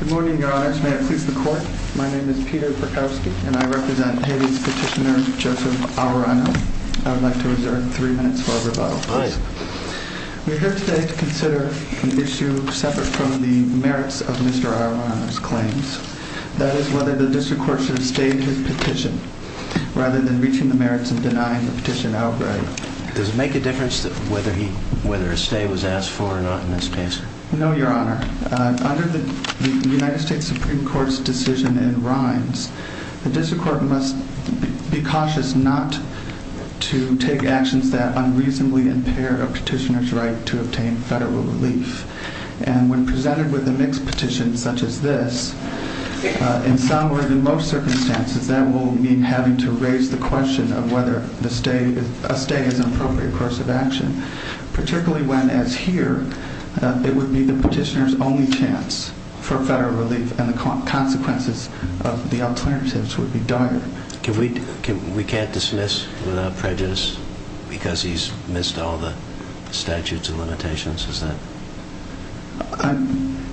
Good morning, Your Honors. May I please the Court? My name is Peter Perkowski, and I represent Haiti's petitioner, Joseph Aruanno. I would like to reserve three minutes for rebuttal. We are here today to consider an issue separate from the merits of Mr. Aruanno's claims. That is, whether the District Court should have stayed his petition, rather than reaching the merits and denying the petition outright. Does it make a difference whether a stay was asked for or not in this case? No, Your Honor. Under the United States Supreme Court's decision in Rhines, the District Court must be cautious not to take actions that unreasonably impair a petitioner's right to obtain federal relief. And when presented with a mixed petition such as this, in some or in most circumstances, that will mean having to raise the question of whether a stay is an appropriate course of action. Particularly when, as here, it would be the petitioner's only chance for federal relief, and the consequences of the alternatives would be dire. We can't dismiss without prejudice because he's missed all the statutes and limitations, is that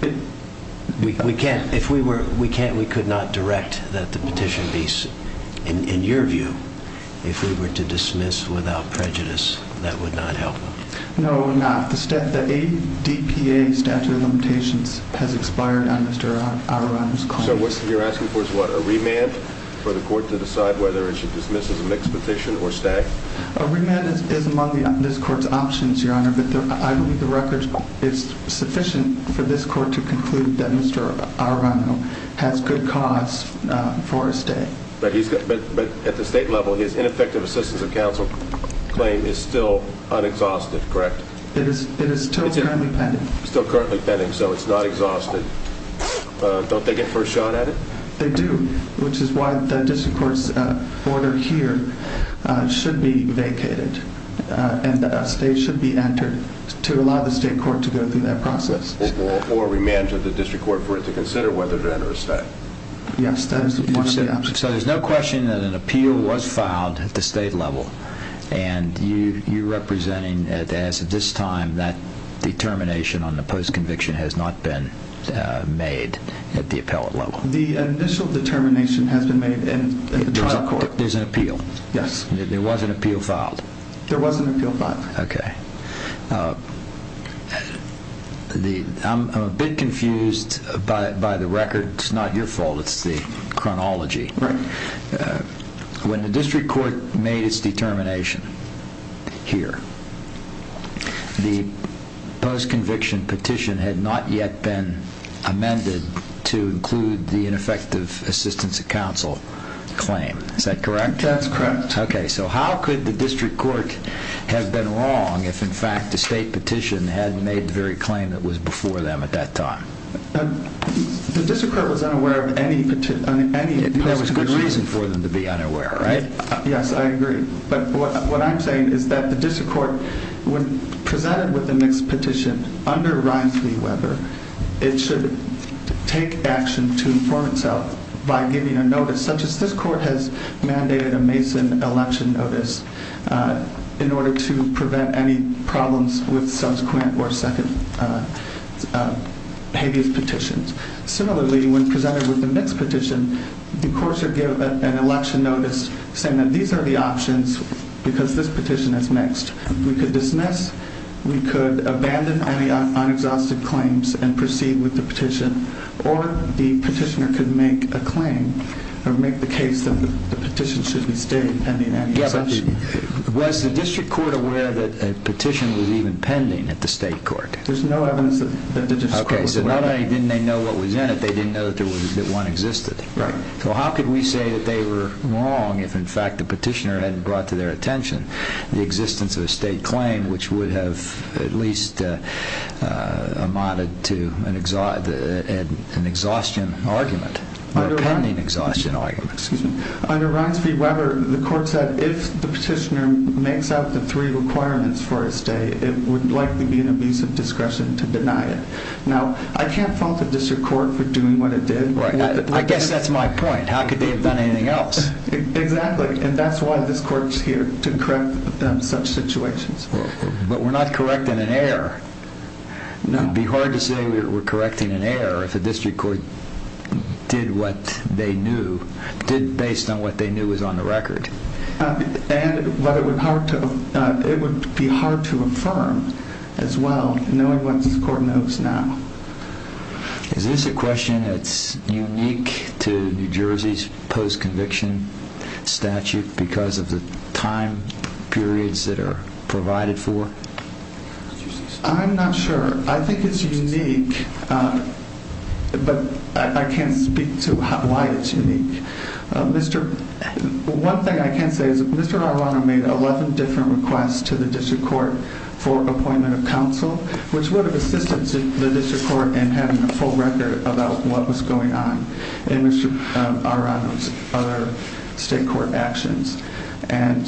it? We can't. We could not direct that the petition be, in your view, if we were to dismiss without prejudice, that would not help. No, we're not. The ADPA statute of limitations has expired on Mr. Aruanno's claims. So what you're asking for is what? A remand for the court to decide whether it should dismiss as a mixed petition or stay? A remand is among this court's options, Your Honor, but I believe the record is sufficient for this court to conclude that Mr. Aruanno has good cause for a stay. But at the state level, his ineffective assistance of counsel claim is still unexhausted, correct? It is still currently pending. Still currently pending, so it's not exhausted. Don't they get first shot at it? They do, which is why the district court's order here should be vacated, and a stay should be entered to allow the state court to go through that process. Or remand to the district court for it to consider whether to enter a stay. Yes, that is one of the options. So there's no question that an appeal was filed at the state level, and you're representing as of this time that determination on the post-conviction has not been made at the appellate level? The initial determination has been made in the trial court. There's an appeal? Yes. There was an appeal filed? There was an appeal filed. I'm a bit confused by the record. It's not your fault, it's the chronology. When the district court made its determination here, the post-conviction petition had not yet been amended to include the ineffective assistance of counsel claim. Is that correct? That's correct. Okay, so how could the district court have been wrong if in fact the state petition had made the very claim that was before them at that time? The district court was unaware of any post-conviction. There was good reason for them to be unaware, right? Yes, I agree. But what I'm saying is that the district court, when presented with a mixed petition under Ryan v. Weber, it should take action to inform itself by giving a notice, such as this court has mandated a Mason election notice, in order to prevent any problems with subsequent or second habeas petitions. Similarly, when presented with a mixed petition, the courts should give an election notice saying that these are the options because this petition is mixed. We could dismiss, we could abandon on the unexhausted claims and proceed with the petition, or the petitioner could make a claim or make the case that the petition should be stayed pending any exception. Was the district court aware that a petition was even pending at the state court? There's no evidence that the district court was aware. Okay, so not only didn't they know what was in it, they didn't know that one existed. Right. So how could we say that they were wrong if in fact the petitioner hadn't brought to their attention the existence of a state claim which would have at least amounted to an exhaustion argument, a pending exhaustion argument? Under Ryan v. Weber, the court said if the petitioner makes out the three requirements for a stay, it would likely be an abuse of discretion to deny it. Now, I can't fault the district court for doing what it did. Right. I guess that's my point. How could they have done anything else? Exactly. And that's why this court is here, to correct such situations. But we're not correcting an error. No. It would be hard to say we're correcting an error if a district court did what they knew, did based on what they knew was on the record. And it would be hard to affirm as well, knowing what this court knows now. Is this a question that's unique to New Jersey's post-conviction statute because of the time periods that are provided for? I'm not sure. I think it's unique, but I can't speak to why it's unique. One thing I can say is Mr. Arrano made 11 different requests to the district court for appointment of counsel, which would have assisted the district court in having a full record about what was going on in Mr. Arrano's other state court actions. And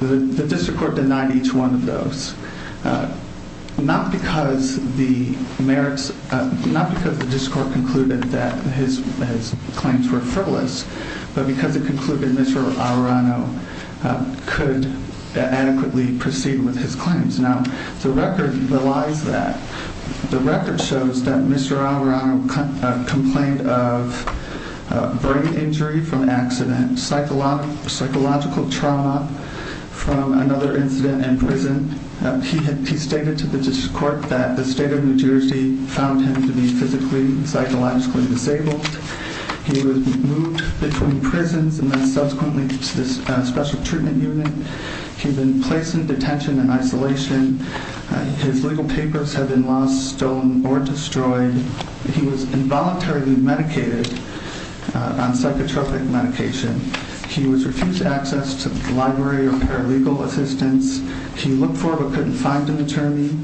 the district court denied each one of those. Not because the district court concluded that his claims were frivolous, but because it concluded Mr. Arrano could adequately proceed with his claims. Now, the record belies that. The record shows that Mr. Arrano complained of brain injury from accident, psychological trauma from another incident in prison. He stated to the district court that the state of New Jersey found him to be physically and psychologically disabled. He was moved between prisons and then subsequently to this special treatment unit. He's been placed in detention in isolation. His legal papers have been lost, stolen, or destroyed. He was involuntarily medicated on psychotropic medication. He was refused access to library or paralegal assistance. He looked for but couldn't find an attorney.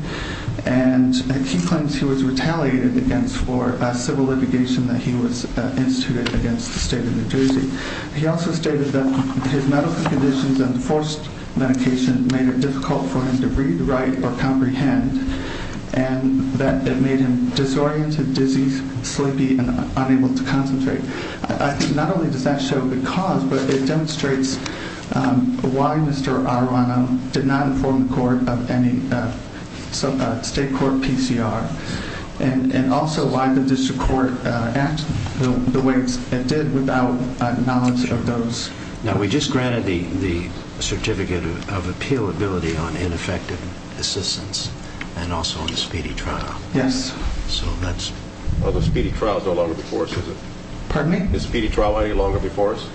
And he claims he was retaliated against for civil litigation that he was instituted against the state of New Jersey. He also stated that his medical conditions and forced medication made it difficult for him to read, write, or comprehend, and that it made him disoriented, dizzy, sleepy, and unable to concentrate. I think not only does that show the cause, but it demonstrates why Mr. Arrano did not inform the court of any state court PCR and also why the district court acted the way it did without knowledge of those. Now, we just granted the certificate of appealability on ineffective assistance and also on the speedy trial. Yes. Well, the speedy trial is no longer before us, is it? Pardon me? Is the speedy trial any longer before us?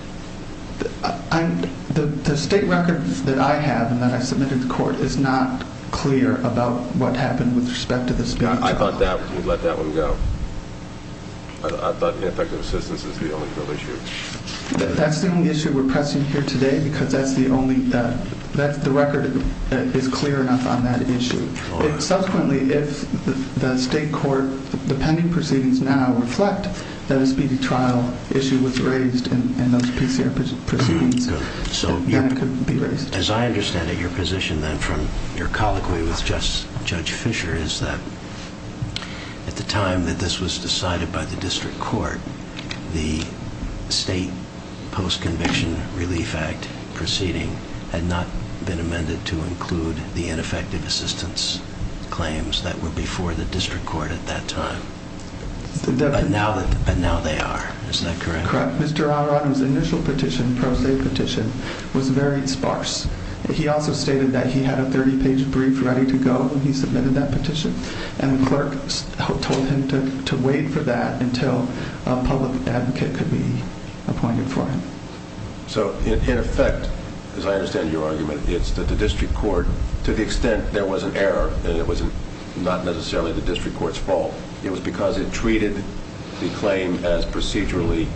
The state record that I have and that I submitted to court is not clear about what happened with respect to the speedy trial. I thought that would let that one go. I thought ineffective assistance is the only real issue. That's the only issue we're pressing here today because that's the record that is clear enough on that issue. Subsequently, if the state court, the pending proceedings now reflect that a speedy trial issue was raised in those PCR proceedings, then it could be raised. As I understand it, your position then from your colloquy with Judge Fisher is that at the time that this was decided by the district court, the state post-conviction relief act proceeding had not been amended to include the ineffective assistance claims that were before the district court at that time. But now they are. Is that correct? Correct. Mr. Alron's initial petition, pro se petition, was very sparse. He also stated that he had a 30-page brief ready to go when he submitted that petition. And the clerk told him to wait for that until a public advocate could be appointed for him. So, in effect, as I understand your argument, it's that the district court, to the extent there was an error and it was not necessarily the district court's fault, it was because it treated the claim as procedurally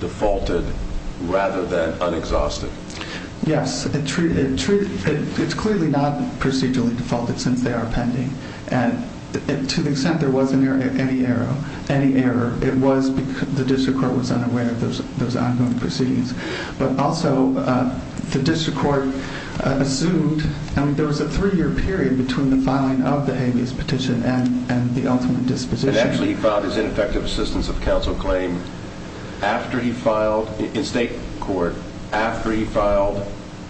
defaulted rather than unexhausted. Yes. It's clearly not procedurally defaulted since they are pending. And to the extent there was any error, it was because the district court was unaware of those ongoing proceedings. But also the district court assumed, I mean, there was a three-year period between the filing of the habeas petition and the ultimate disposition. And actually he filed his ineffective assistance of counsel claim after he filed, in state court, after he filed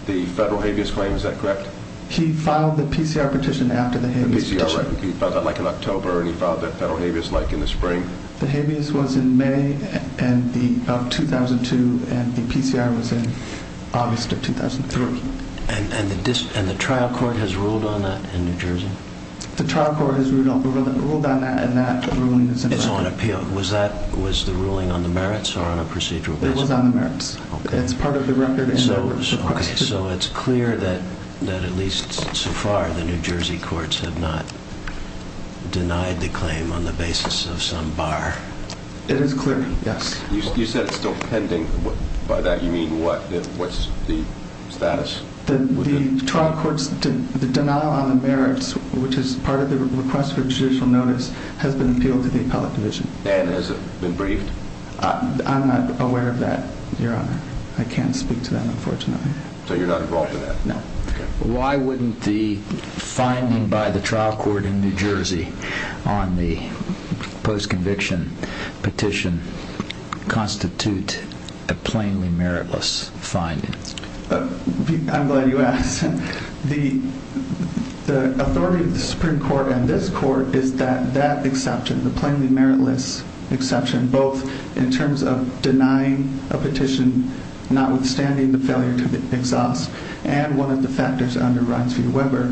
the federal habeas claim. Is that correct? He filed the PCR petition after the habeas petition. The PCR, right. He filed that, like, in October, and he filed the federal habeas, like, in the spring. The habeas was in May of 2002, and the PCR was in August of 2003. And the trial court has ruled on that in New Jersey? The trial court has ruled on that, and that ruling is on appeal. It's on appeal. Was that, was the ruling on the merits or on a procedural basis? It was on the merits. Okay. It's part of the record. Okay. So it's clear that, at least so far, the New Jersey courts have not denied the claim on the basis of some bar? It is clear, yes. You said it's still pending. By that you mean what? What's the status? The trial court's denial on the merits, which is part of the request for judicial notice, has been appealed to the appellate division. And has it been briefed? I'm not aware of that, Your Honor. I can't speak to that, unfortunately. So you're not involved in that? No. Okay. Why wouldn't the finding by the trial court in New Jersey on the post-conviction petition constitute a plainly meritless finding? I'm glad you asked. The authority of the Supreme Court and this court is that that exception, the plainly meritless exception, both in terms of denying a petition notwithstanding the failure to exhaust and one of the factors under Reince V Weber,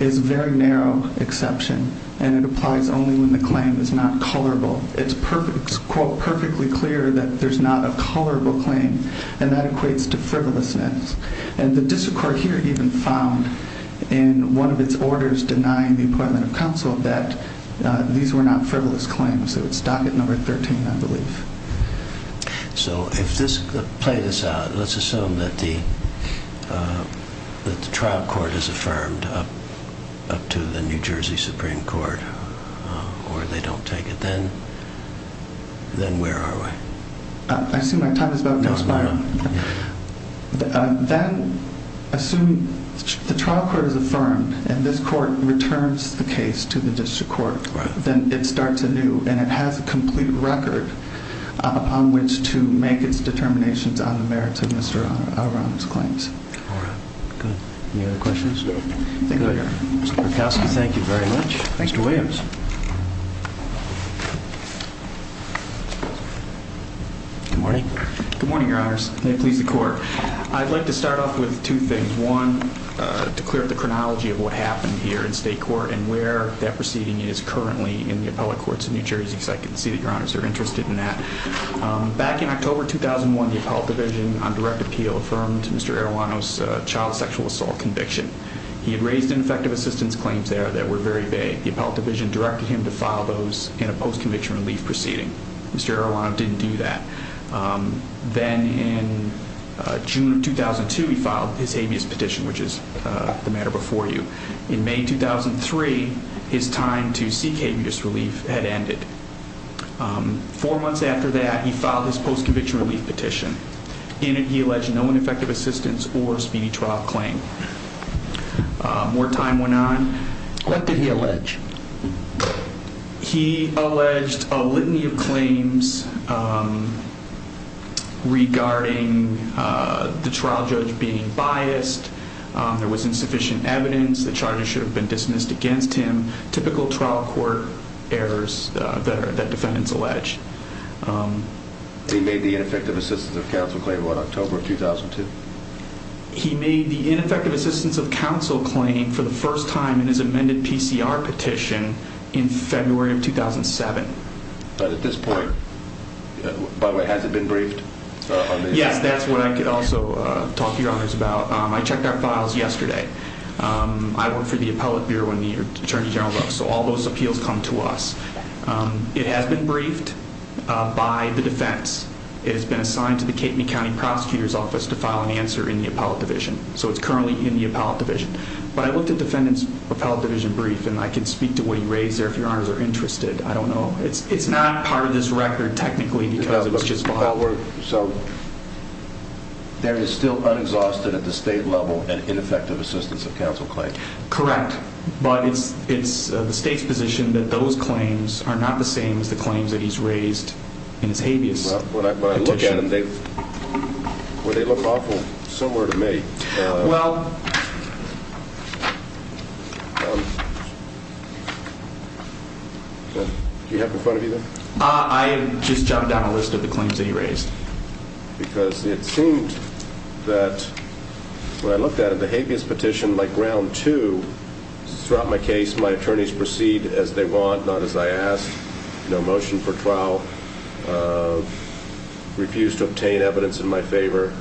is a very narrow exception, and it applies only when the claim is not colorable. It's quote, perfectly clear that there's not a colorable claim, and that equates to frivolousness. And the district court here even found in one of its orders denying the appointment of counsel that these were not frivolous claims. So it's docket number 13, I believe. So play this out. Let's assume that the trial court is affirmed up to the New Jersey Supreme Court, or they don't take it. Then where are we? I assume my time is about to expire. No, no, no. Then assume the trial court is affirmed, and this court returns the case to the district court. Right. And then it starts anew, and it has a complete record upon which to make its determinations on the merits of Mr. O'Rourke's claims. All right. Good. Any other questions? No. Mr. Berkowski, thank you very much. Thanks to Williams. Good morning. Good morning, Your Honors. May it please the Court. I'd like to start off with two things. One, to clear up the chronology of what happened here in state court and where that proceeding is currently in the appellate courts of New Jersey, because I can see that Your Honors are interested in that. Back in October 2001, the appellate division on direct appeal affirmed Mr. Arruano's child sexual assault conviction. He had raised ineffective assistance claims there that were very vague. The appellate division directed him to file those in a post-conviction relief proceeding. Mr. Arruano didn't do that. Then in June of 2002, he filed his habeas petition, which is the matter before you. In May 2003, his time to seek habeas relief had ended. Four months after that, he filed his post-conviction relief petition. In it, he alleged no ineffective assistance or speedy trial claim. What did he allege? He alleged a litany of claims regarding the trial judge being biased. There was insufficient evidence. The charges should have been dismissed against him. Typical trial court errors that defendants allege. He made the ineffective assistance of counsel claim about October 2002. He made the ineffective assistance of counsel claim for the first time in his amended PCR petition in February of 2007. But at this point, by the way, has it been briefed? Yes, that's what I could also talk to your honors about. I checked our files yesterday. I work for the appellate bureau in New York, Attorney General Brooks, so all those appeals come to us. It has been briefed by the defense. It has been assigned to the Cape County Prosecutor's Office to file an answer in the appellate division, so it's currently in the appellate division. But I looked at defendants appellate division brief, and I can speak to what he raised there if your honors are interested. I don't know. It's not part of this record technically because it was just filed. So there is still unexhausted at the state level and ineffective assistance of counsel claim. Correct, but it's the state's position that those claims are not the same as the claims that he's raised in his habeas. Well, when I look at them, they look awful similar to me. Well. Do you have in front of you there? I just jotted down a list of the claims that he raised. Because it seemed that when I looked at it, the habeas petition, like round two, throughout my case, my attorneys proceed as they want, not as I asked. No motion for trial. Refused to obtain evidence in my favor.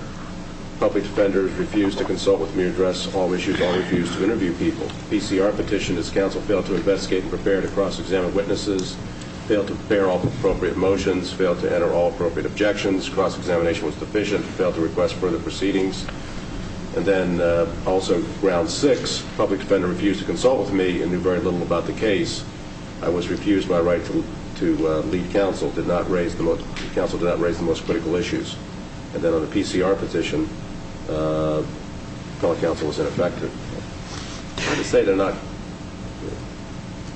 Public defenders refused to consult with me to address all issues. I refused to interview people. PCR petition is counsel failed to investigate and prepare to cross-examine witnesses. Failed to prepare all appropriate motions. Failed to enter all appropriate objections. Cross-examination was deficient. Failed to request further proceedings. And then also round six, public defender refused to consult with me and knew very little about the case. I was refused my right to lead counsel. Counsel did not raise the most critical issues. And then on the PCR petition, public counsel was ineffective. I would say they're not.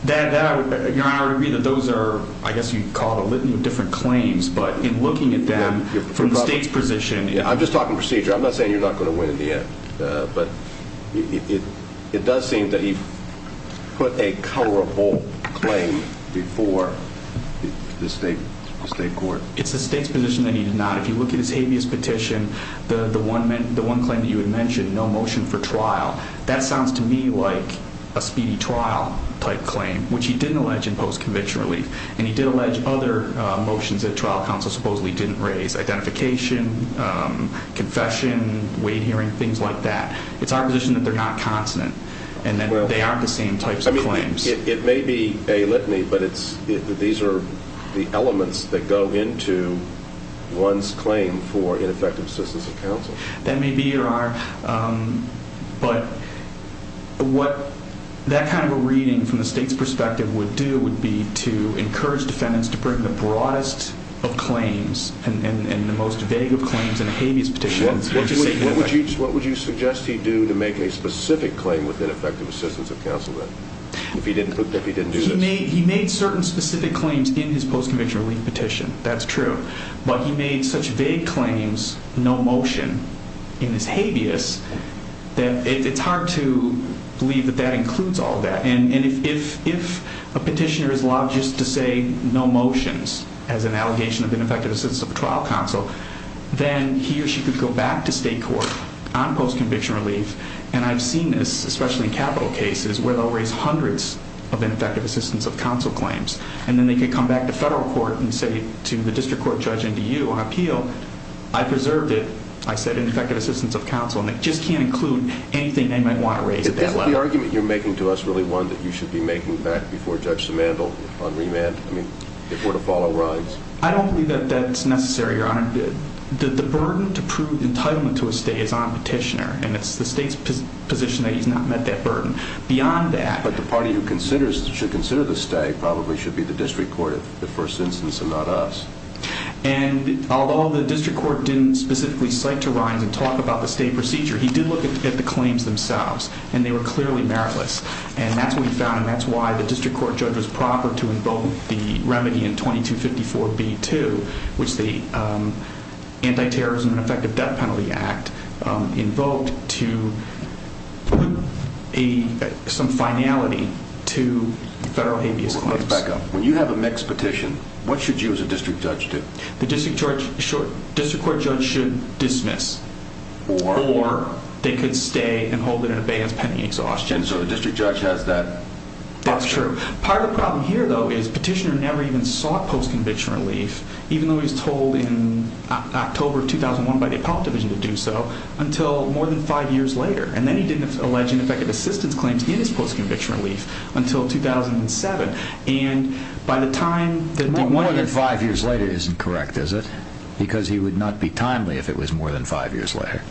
I would agree that those are, I guess you'd call a litany of different claims. But in looking at them from the state's position. I'm just talking procedure. I'm not saying you're not going to win in the end. But it does seem that he put a colorable claim before the state court. It's the state's position that he did not. If you look at his habeas petition, the one claim that you had mentioned, no motion for trial. That sounds to me like a speedy trial type claim, which he didn't allege in post-conviction relief. And he did allege other motions that trial counsel supposedly didn't raise. Identification, confession, weight hearing, things like that. It's our position that they're not consonant and that they aren't the same types of claims. It may be a litany, but these are the elements that go into one's claim for ineffective assistance of counsel. That may be or are. But what that kind of a reading from the state's perspective would do would be to encourage defendants to bring the broadest of claims and the most vague of claims in a habeas petition. What would you suggest he do to make a specific claim with ineffective assistance of counsel then? If he didn't do this? He made certain specific claims in his post-conviction relief petition. That's true. But he made such vague claims, no motion, in his habeas, that it's hard to believe that that includes all that. And if a petitioner is allowed just to say no motions as an allegation of ineffective assistance of trial counsel, then he or she could go back to state court on post-conviction relief. And I've seen this, especially in capital cases, where they'll raise hundreds of ineffective assistance of counsel claims. And then they could come back to federal court and say to the district court judge and to you on appeal, I preserved it. I said ineffective assistance of counsel. And it just can't include anything they might want to raise at that level. Is the argument you're making to us really one that you should be making back before Judge Simandl on remand? I mean, if we're to follow Rhines? I don't believe that that's necessary, Your Honor. The burden to prove entitlement to a stay is on a petitioner, and it's the state's position that he's not met that burden. Beyond that. But the party who should consider the stay probably should be the district court, in the first instance, and not us. And although the district court didn't specifically cite to Rhines and talk about the stay procedure, he did look at the claims themselves, and they were clearly meritless. And that's when he found them. That's why the district court judge was proper to invoke the remedy in 2254b-2, which the Antiterrorism and Effective Death Penalty Act invoked to put some finality to federal habeas claims. Let's back up. When you have a mixed petition, what should you as a district judge do? The district court judge should dismiss. Or? Or they could stay and hold it in abeyance pending exhaustion. And so the district judge has that option. That's true. Part of the problem here, though, is petitioner never even sought post-conviction relief, even though he was told in October of 2001 by the Apollo Division to do so, until more than five years later. And then he didn't allege ineffective assistance claims in his post-conviction relief until 2007. And by the time that the more than five years later isn't correct, is it? Because he would not be timely if it was more than five years later.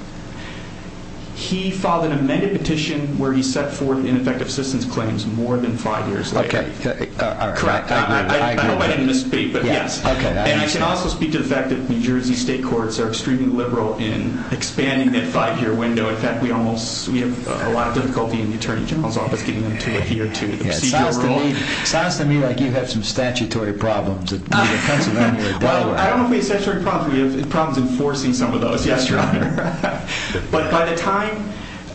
He filed an amended petition where he set forth ineffective assistance claims more than five years later. Okay. Correct. I hope I didn't misspeak, but yes. And I can also speak to the fact that New Jersey state courts are extremely liberal in expanding that five-year window. In fact, we have a lot of difficulty in the Attorney General's Office getting them to adhere to the procedural rule. It sounds to me like you have some statutory problems. Well, I don't know if we have statutory problems. We have problems enforcing some of those, yes, Your Honor. But by the time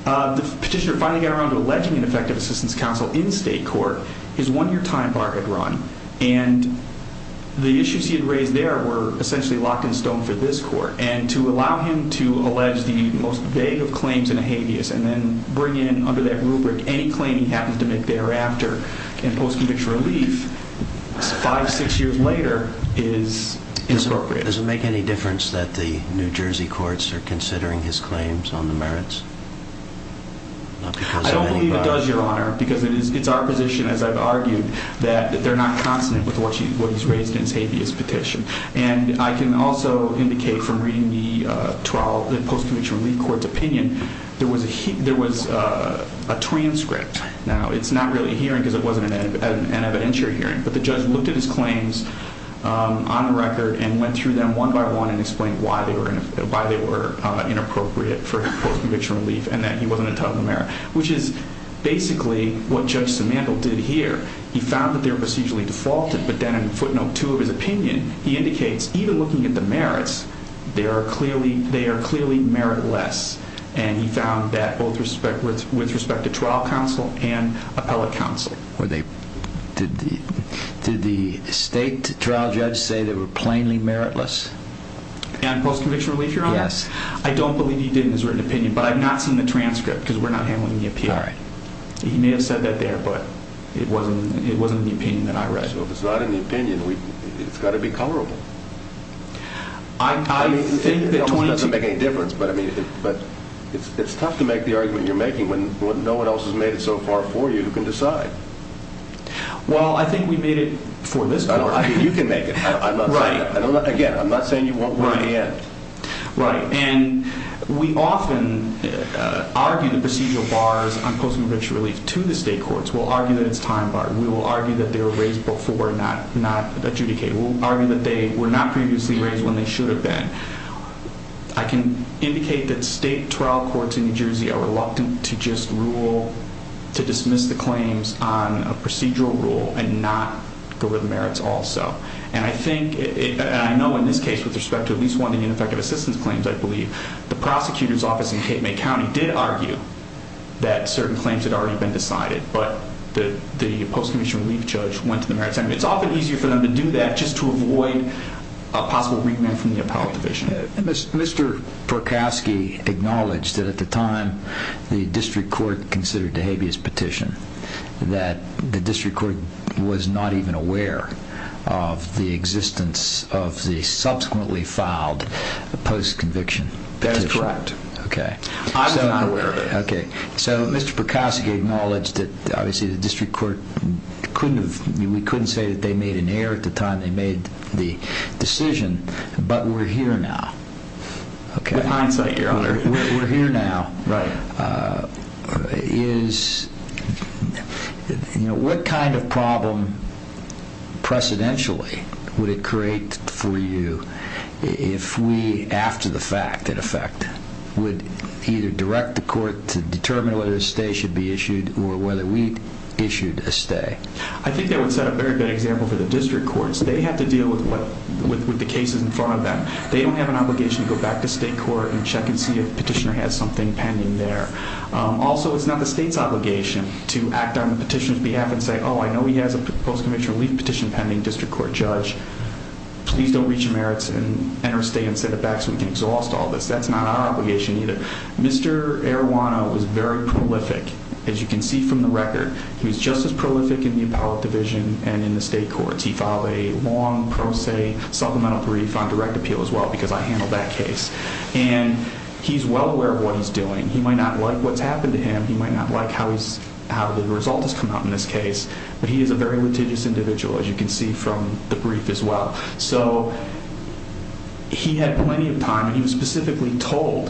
the petitioner finally got around to alleging ineffective assistance counsel in state court, his one-year time bar had run, and the issues he had raised there were essentially locked in stone for this court. And to allow him to allege the most vague of claims in a habeas and then bring in under that rubric any claim he happens to make thereafter in post-conviction relief, five, six years later, is inappropriate. Does it make any difference that the New Jersey courts are considering his claims on the merits? I don't believe it does, Your Honor, because it's our position, as I've argued, that they're not consonant with what he's raised in his habeas petition. And I can also indicate from reading the post-conviction relief court's opinion, there was a transcript. Now, it's not really a hearing because it wasn't an evidentiary hearing, but the judge looked at his claims on the record and went through them one by one and explained why they were inappropriate for post-conviction relief and that he wasn't entitled to the merit, which is basically what Judge Simandl did here. He found that they were procedurally defaulted, but then in footnote 2 of his opinion, he indicates even looking at the merits, they are clearly meritless, and he found that with respect to trial counsel and appellate counsel. Did the state trial judge say they were plainly meritless? And post-conviction relief, Your Honor? Yes. I don't believe he did in his written opinion, but I've not seen the transcript because we're not handling the appeal. All right. He may have said that there, but it wasn't in the opinion that I read. So if it's not in the opinion, it's got to be colorable. It almost doesn't make any difference, but it's tough to make the argument you're making when no one else has made it so far for you who can decide. Well, I think we made it for this court. You can make it. Again, I'm not saying you won't win in the end. Right. And we often argue the procedural bars on post-conviction relief to the state courts. We'll argue that it's time bar. We will argue that they were raised before and not adjudicated. We'll argue that they were not previously raised when they should have been. I can indicate that state trial courts in New Jersey are reluctant to just rule, to dismiss the claims on a procedural rule and not go over the merits also. And I think, and I know in this case, with respect to at least one of the ineffective assistance claims, I believe, the prosecutor's office in Cape May County did argue that certain claims had already been decided, but the post-conviction relief judge went to the merits. It's often easier for them to do that just to avoid a possible remand from the appellate division. Mr. Perkowski acknowledged that at the time the district court considered DeHabia's petition that the district court was not even aware of the existence of the subsequently filed post-conviction petition. That is correct. Okay. I was not aware of it. Okay. So Mr. Perkowski acknowledged that obviously the district court couldn't have, we couldn't say that they made an error at the time they made the decision, but we're here now. With hindsight, Your Honor. We're here now. Right. Is, you know, what kind of problem precedentially would it create for you if we, after the fact, in effect, would either direct the court to determine whether a stay should be issued or whether we issued a stay? I think that would set a very good example for the district courts. They have to deal with the cases in front of them. They don't have an obligation to go back to state court and check and see if the petitioner has something pending there. Also, it's not the state's obligation to act on the petitioner's behalf and say, oh, I know he has a post-conviction relief petition pending district court judge. Please don't reach your merits and enter a stay and send it back so we can exhaust all this. That's not our obligation either. Mr. Arowana was very prolific, as you can see from the record. He was just as prolific in the appellate division and in the state courts. He filed a long pro se supplemental brief on direct appeal as well because I handled that case. And he's well aware of what he's doing. He might not like what's happened to him. He might not like how the result has come out in this case. But he is a very litigious individual, as you can see from the brief as well. So he had plenty of time, and he was specifically told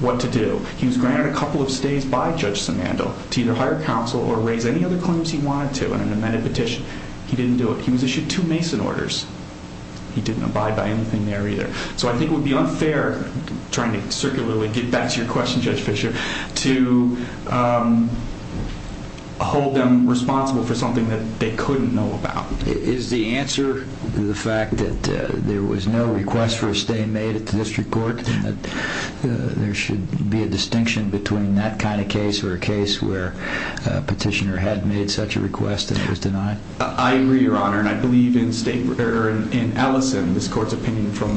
what to do. He was granted a couple of stays by Judge Simandl to either hire counsel or raise any other claims he wanted to in an amended petition. He didn't do it. He was issued two Mason orders. He didn't abide by anything there either. So I think it would be unfair, trying to circularly get back to your question, Judge Fischer, to hold them responsible for something that they couldn't know about. Is the answer the fact that there was no request for a stay made at the district court and that there should be a distinction between that kind of case or a case where a petitioner had made such a request and it was denied? I agree, Your Honor, and I believe in Ellison, this court's opinion from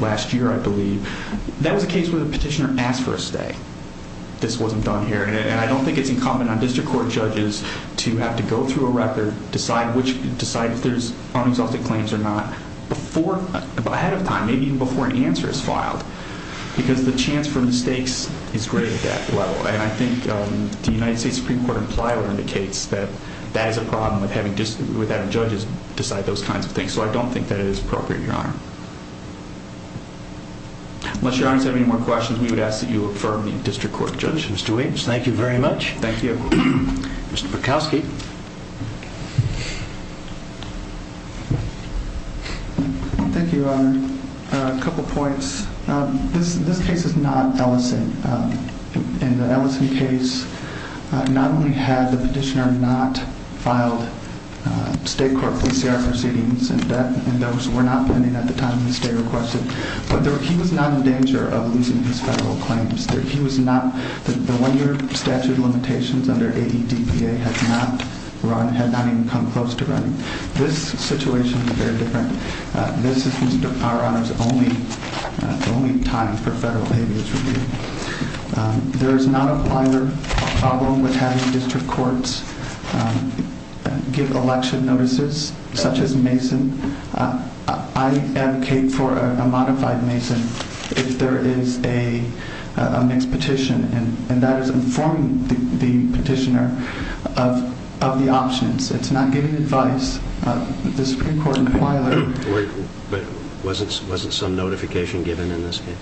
last year, I believe, that was a case where the petitioner asked for a stay. This wasn't done here. And I don't think it's incumbent on district court judges to have to go through a record, decide if there's unexhausted claims or not ahead of time, maybe even before an answer is filed, because the chance for mistakes is great at that level. And I think the United States Supreme Court in Plywood indicates that that is a problem with having judges decide those kinds of things. So I don't think that it is appropriate, Your Honor. Unless Your Honor has any more questions, we would ask that you affirm the district court judge. Mr. Weems, thank you very much. Thank you. Mr. Bukowski. Thank you, Your Honor. A couple points. This case is not Ellison. In the Ellison case, not only had the petitioner not filed state court PCR proceedings, and those were not pending at the time the state requested, but he was not in danger of losing his federal claims. The one-year statute of limitations under AEDPA had not run, had not even come close to running. This situation is very different. This is, Your Honor, the only time for federal AEDPA. There is not a problem with having district courts give election notices, such as Mason. I advocate for a modified Mason if there is a mixed petition, and that is informing the petitioner of the options. It is not giving advice. The Supreme Court inquired. Wasn't some notification given in this case?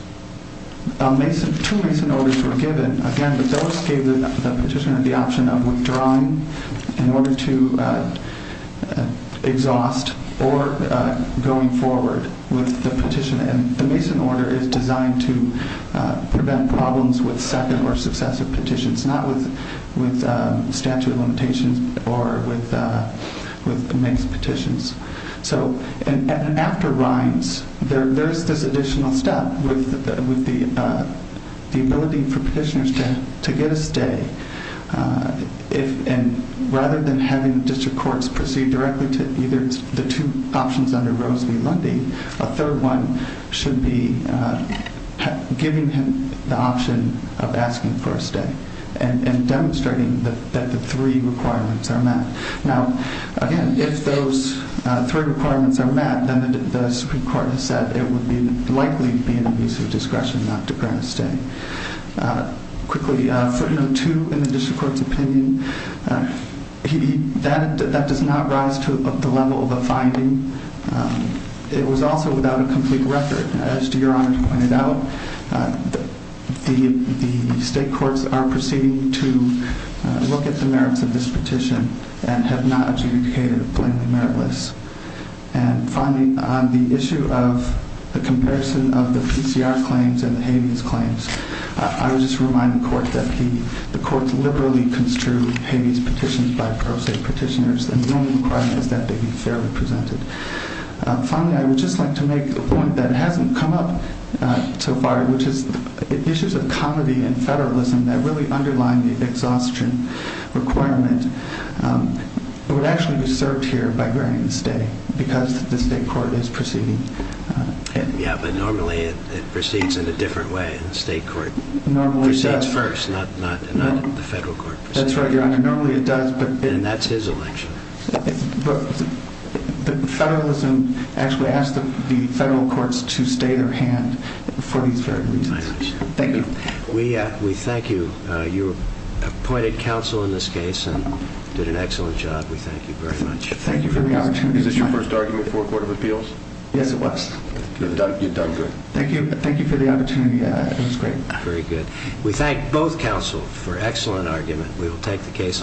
Two Mason orders were given. Again, those gave the petitioner the option of withdrawing in order to exhaust or going forward with the petition. The Mason order is designed to prevent problems with second or successive petitions, not with statute of limitations or with mixed petitions. So after Rhines, there is this additional step with the ability for petitioners to get a stay. Rather than having district courts proceed directly to either the two options under Rose v. Lundy, a third one should be giving him the option of asking for a stay and demonstrating that the three requirements are met. Now, again, if those three requirements are met, then the Supreme Court has said it would likely be an abuse of discretion not to grant a stay. Quickly, footnote two in the district court's opinion, that does not rise to the level of a finding. It was also without a complete record. As Your Honor pointed out, the state courts are proceeding to look at the merits of this petition and have not adjudicated it plainly meritless. And finally, on the issue of the comparison of the PCR claims and the habeas claims, I would just remind the court that the courts liberally construe habeas petitions by pro se petitioners, and the only requirement is that they be fairly presented. Finally, I would just like to make a point that hasn't come up so far, which is issues of comity and federalism that really underline the exhaustion requirement would actually be served here by granting a stay because the state court is proceeding. Yeah, but normally it proceeds in a different way. The state court proceeds first, not the federal court. That's right, Your Honor. Normally it does. And that's his election. But federalism actually asks the federal courts to stay their hand for these very reasons. Thank you. We thank you. You appointed counsel in this case and did an excellent job. We thank you very much. Thank you for the opportunity. Is this your first argument for a court of appeals? Yes, it was. You've done great. Thank you. Thank you for the opportunity. It was great. Very good. We thank both counsel for excellent argument. We will take the case under revisal.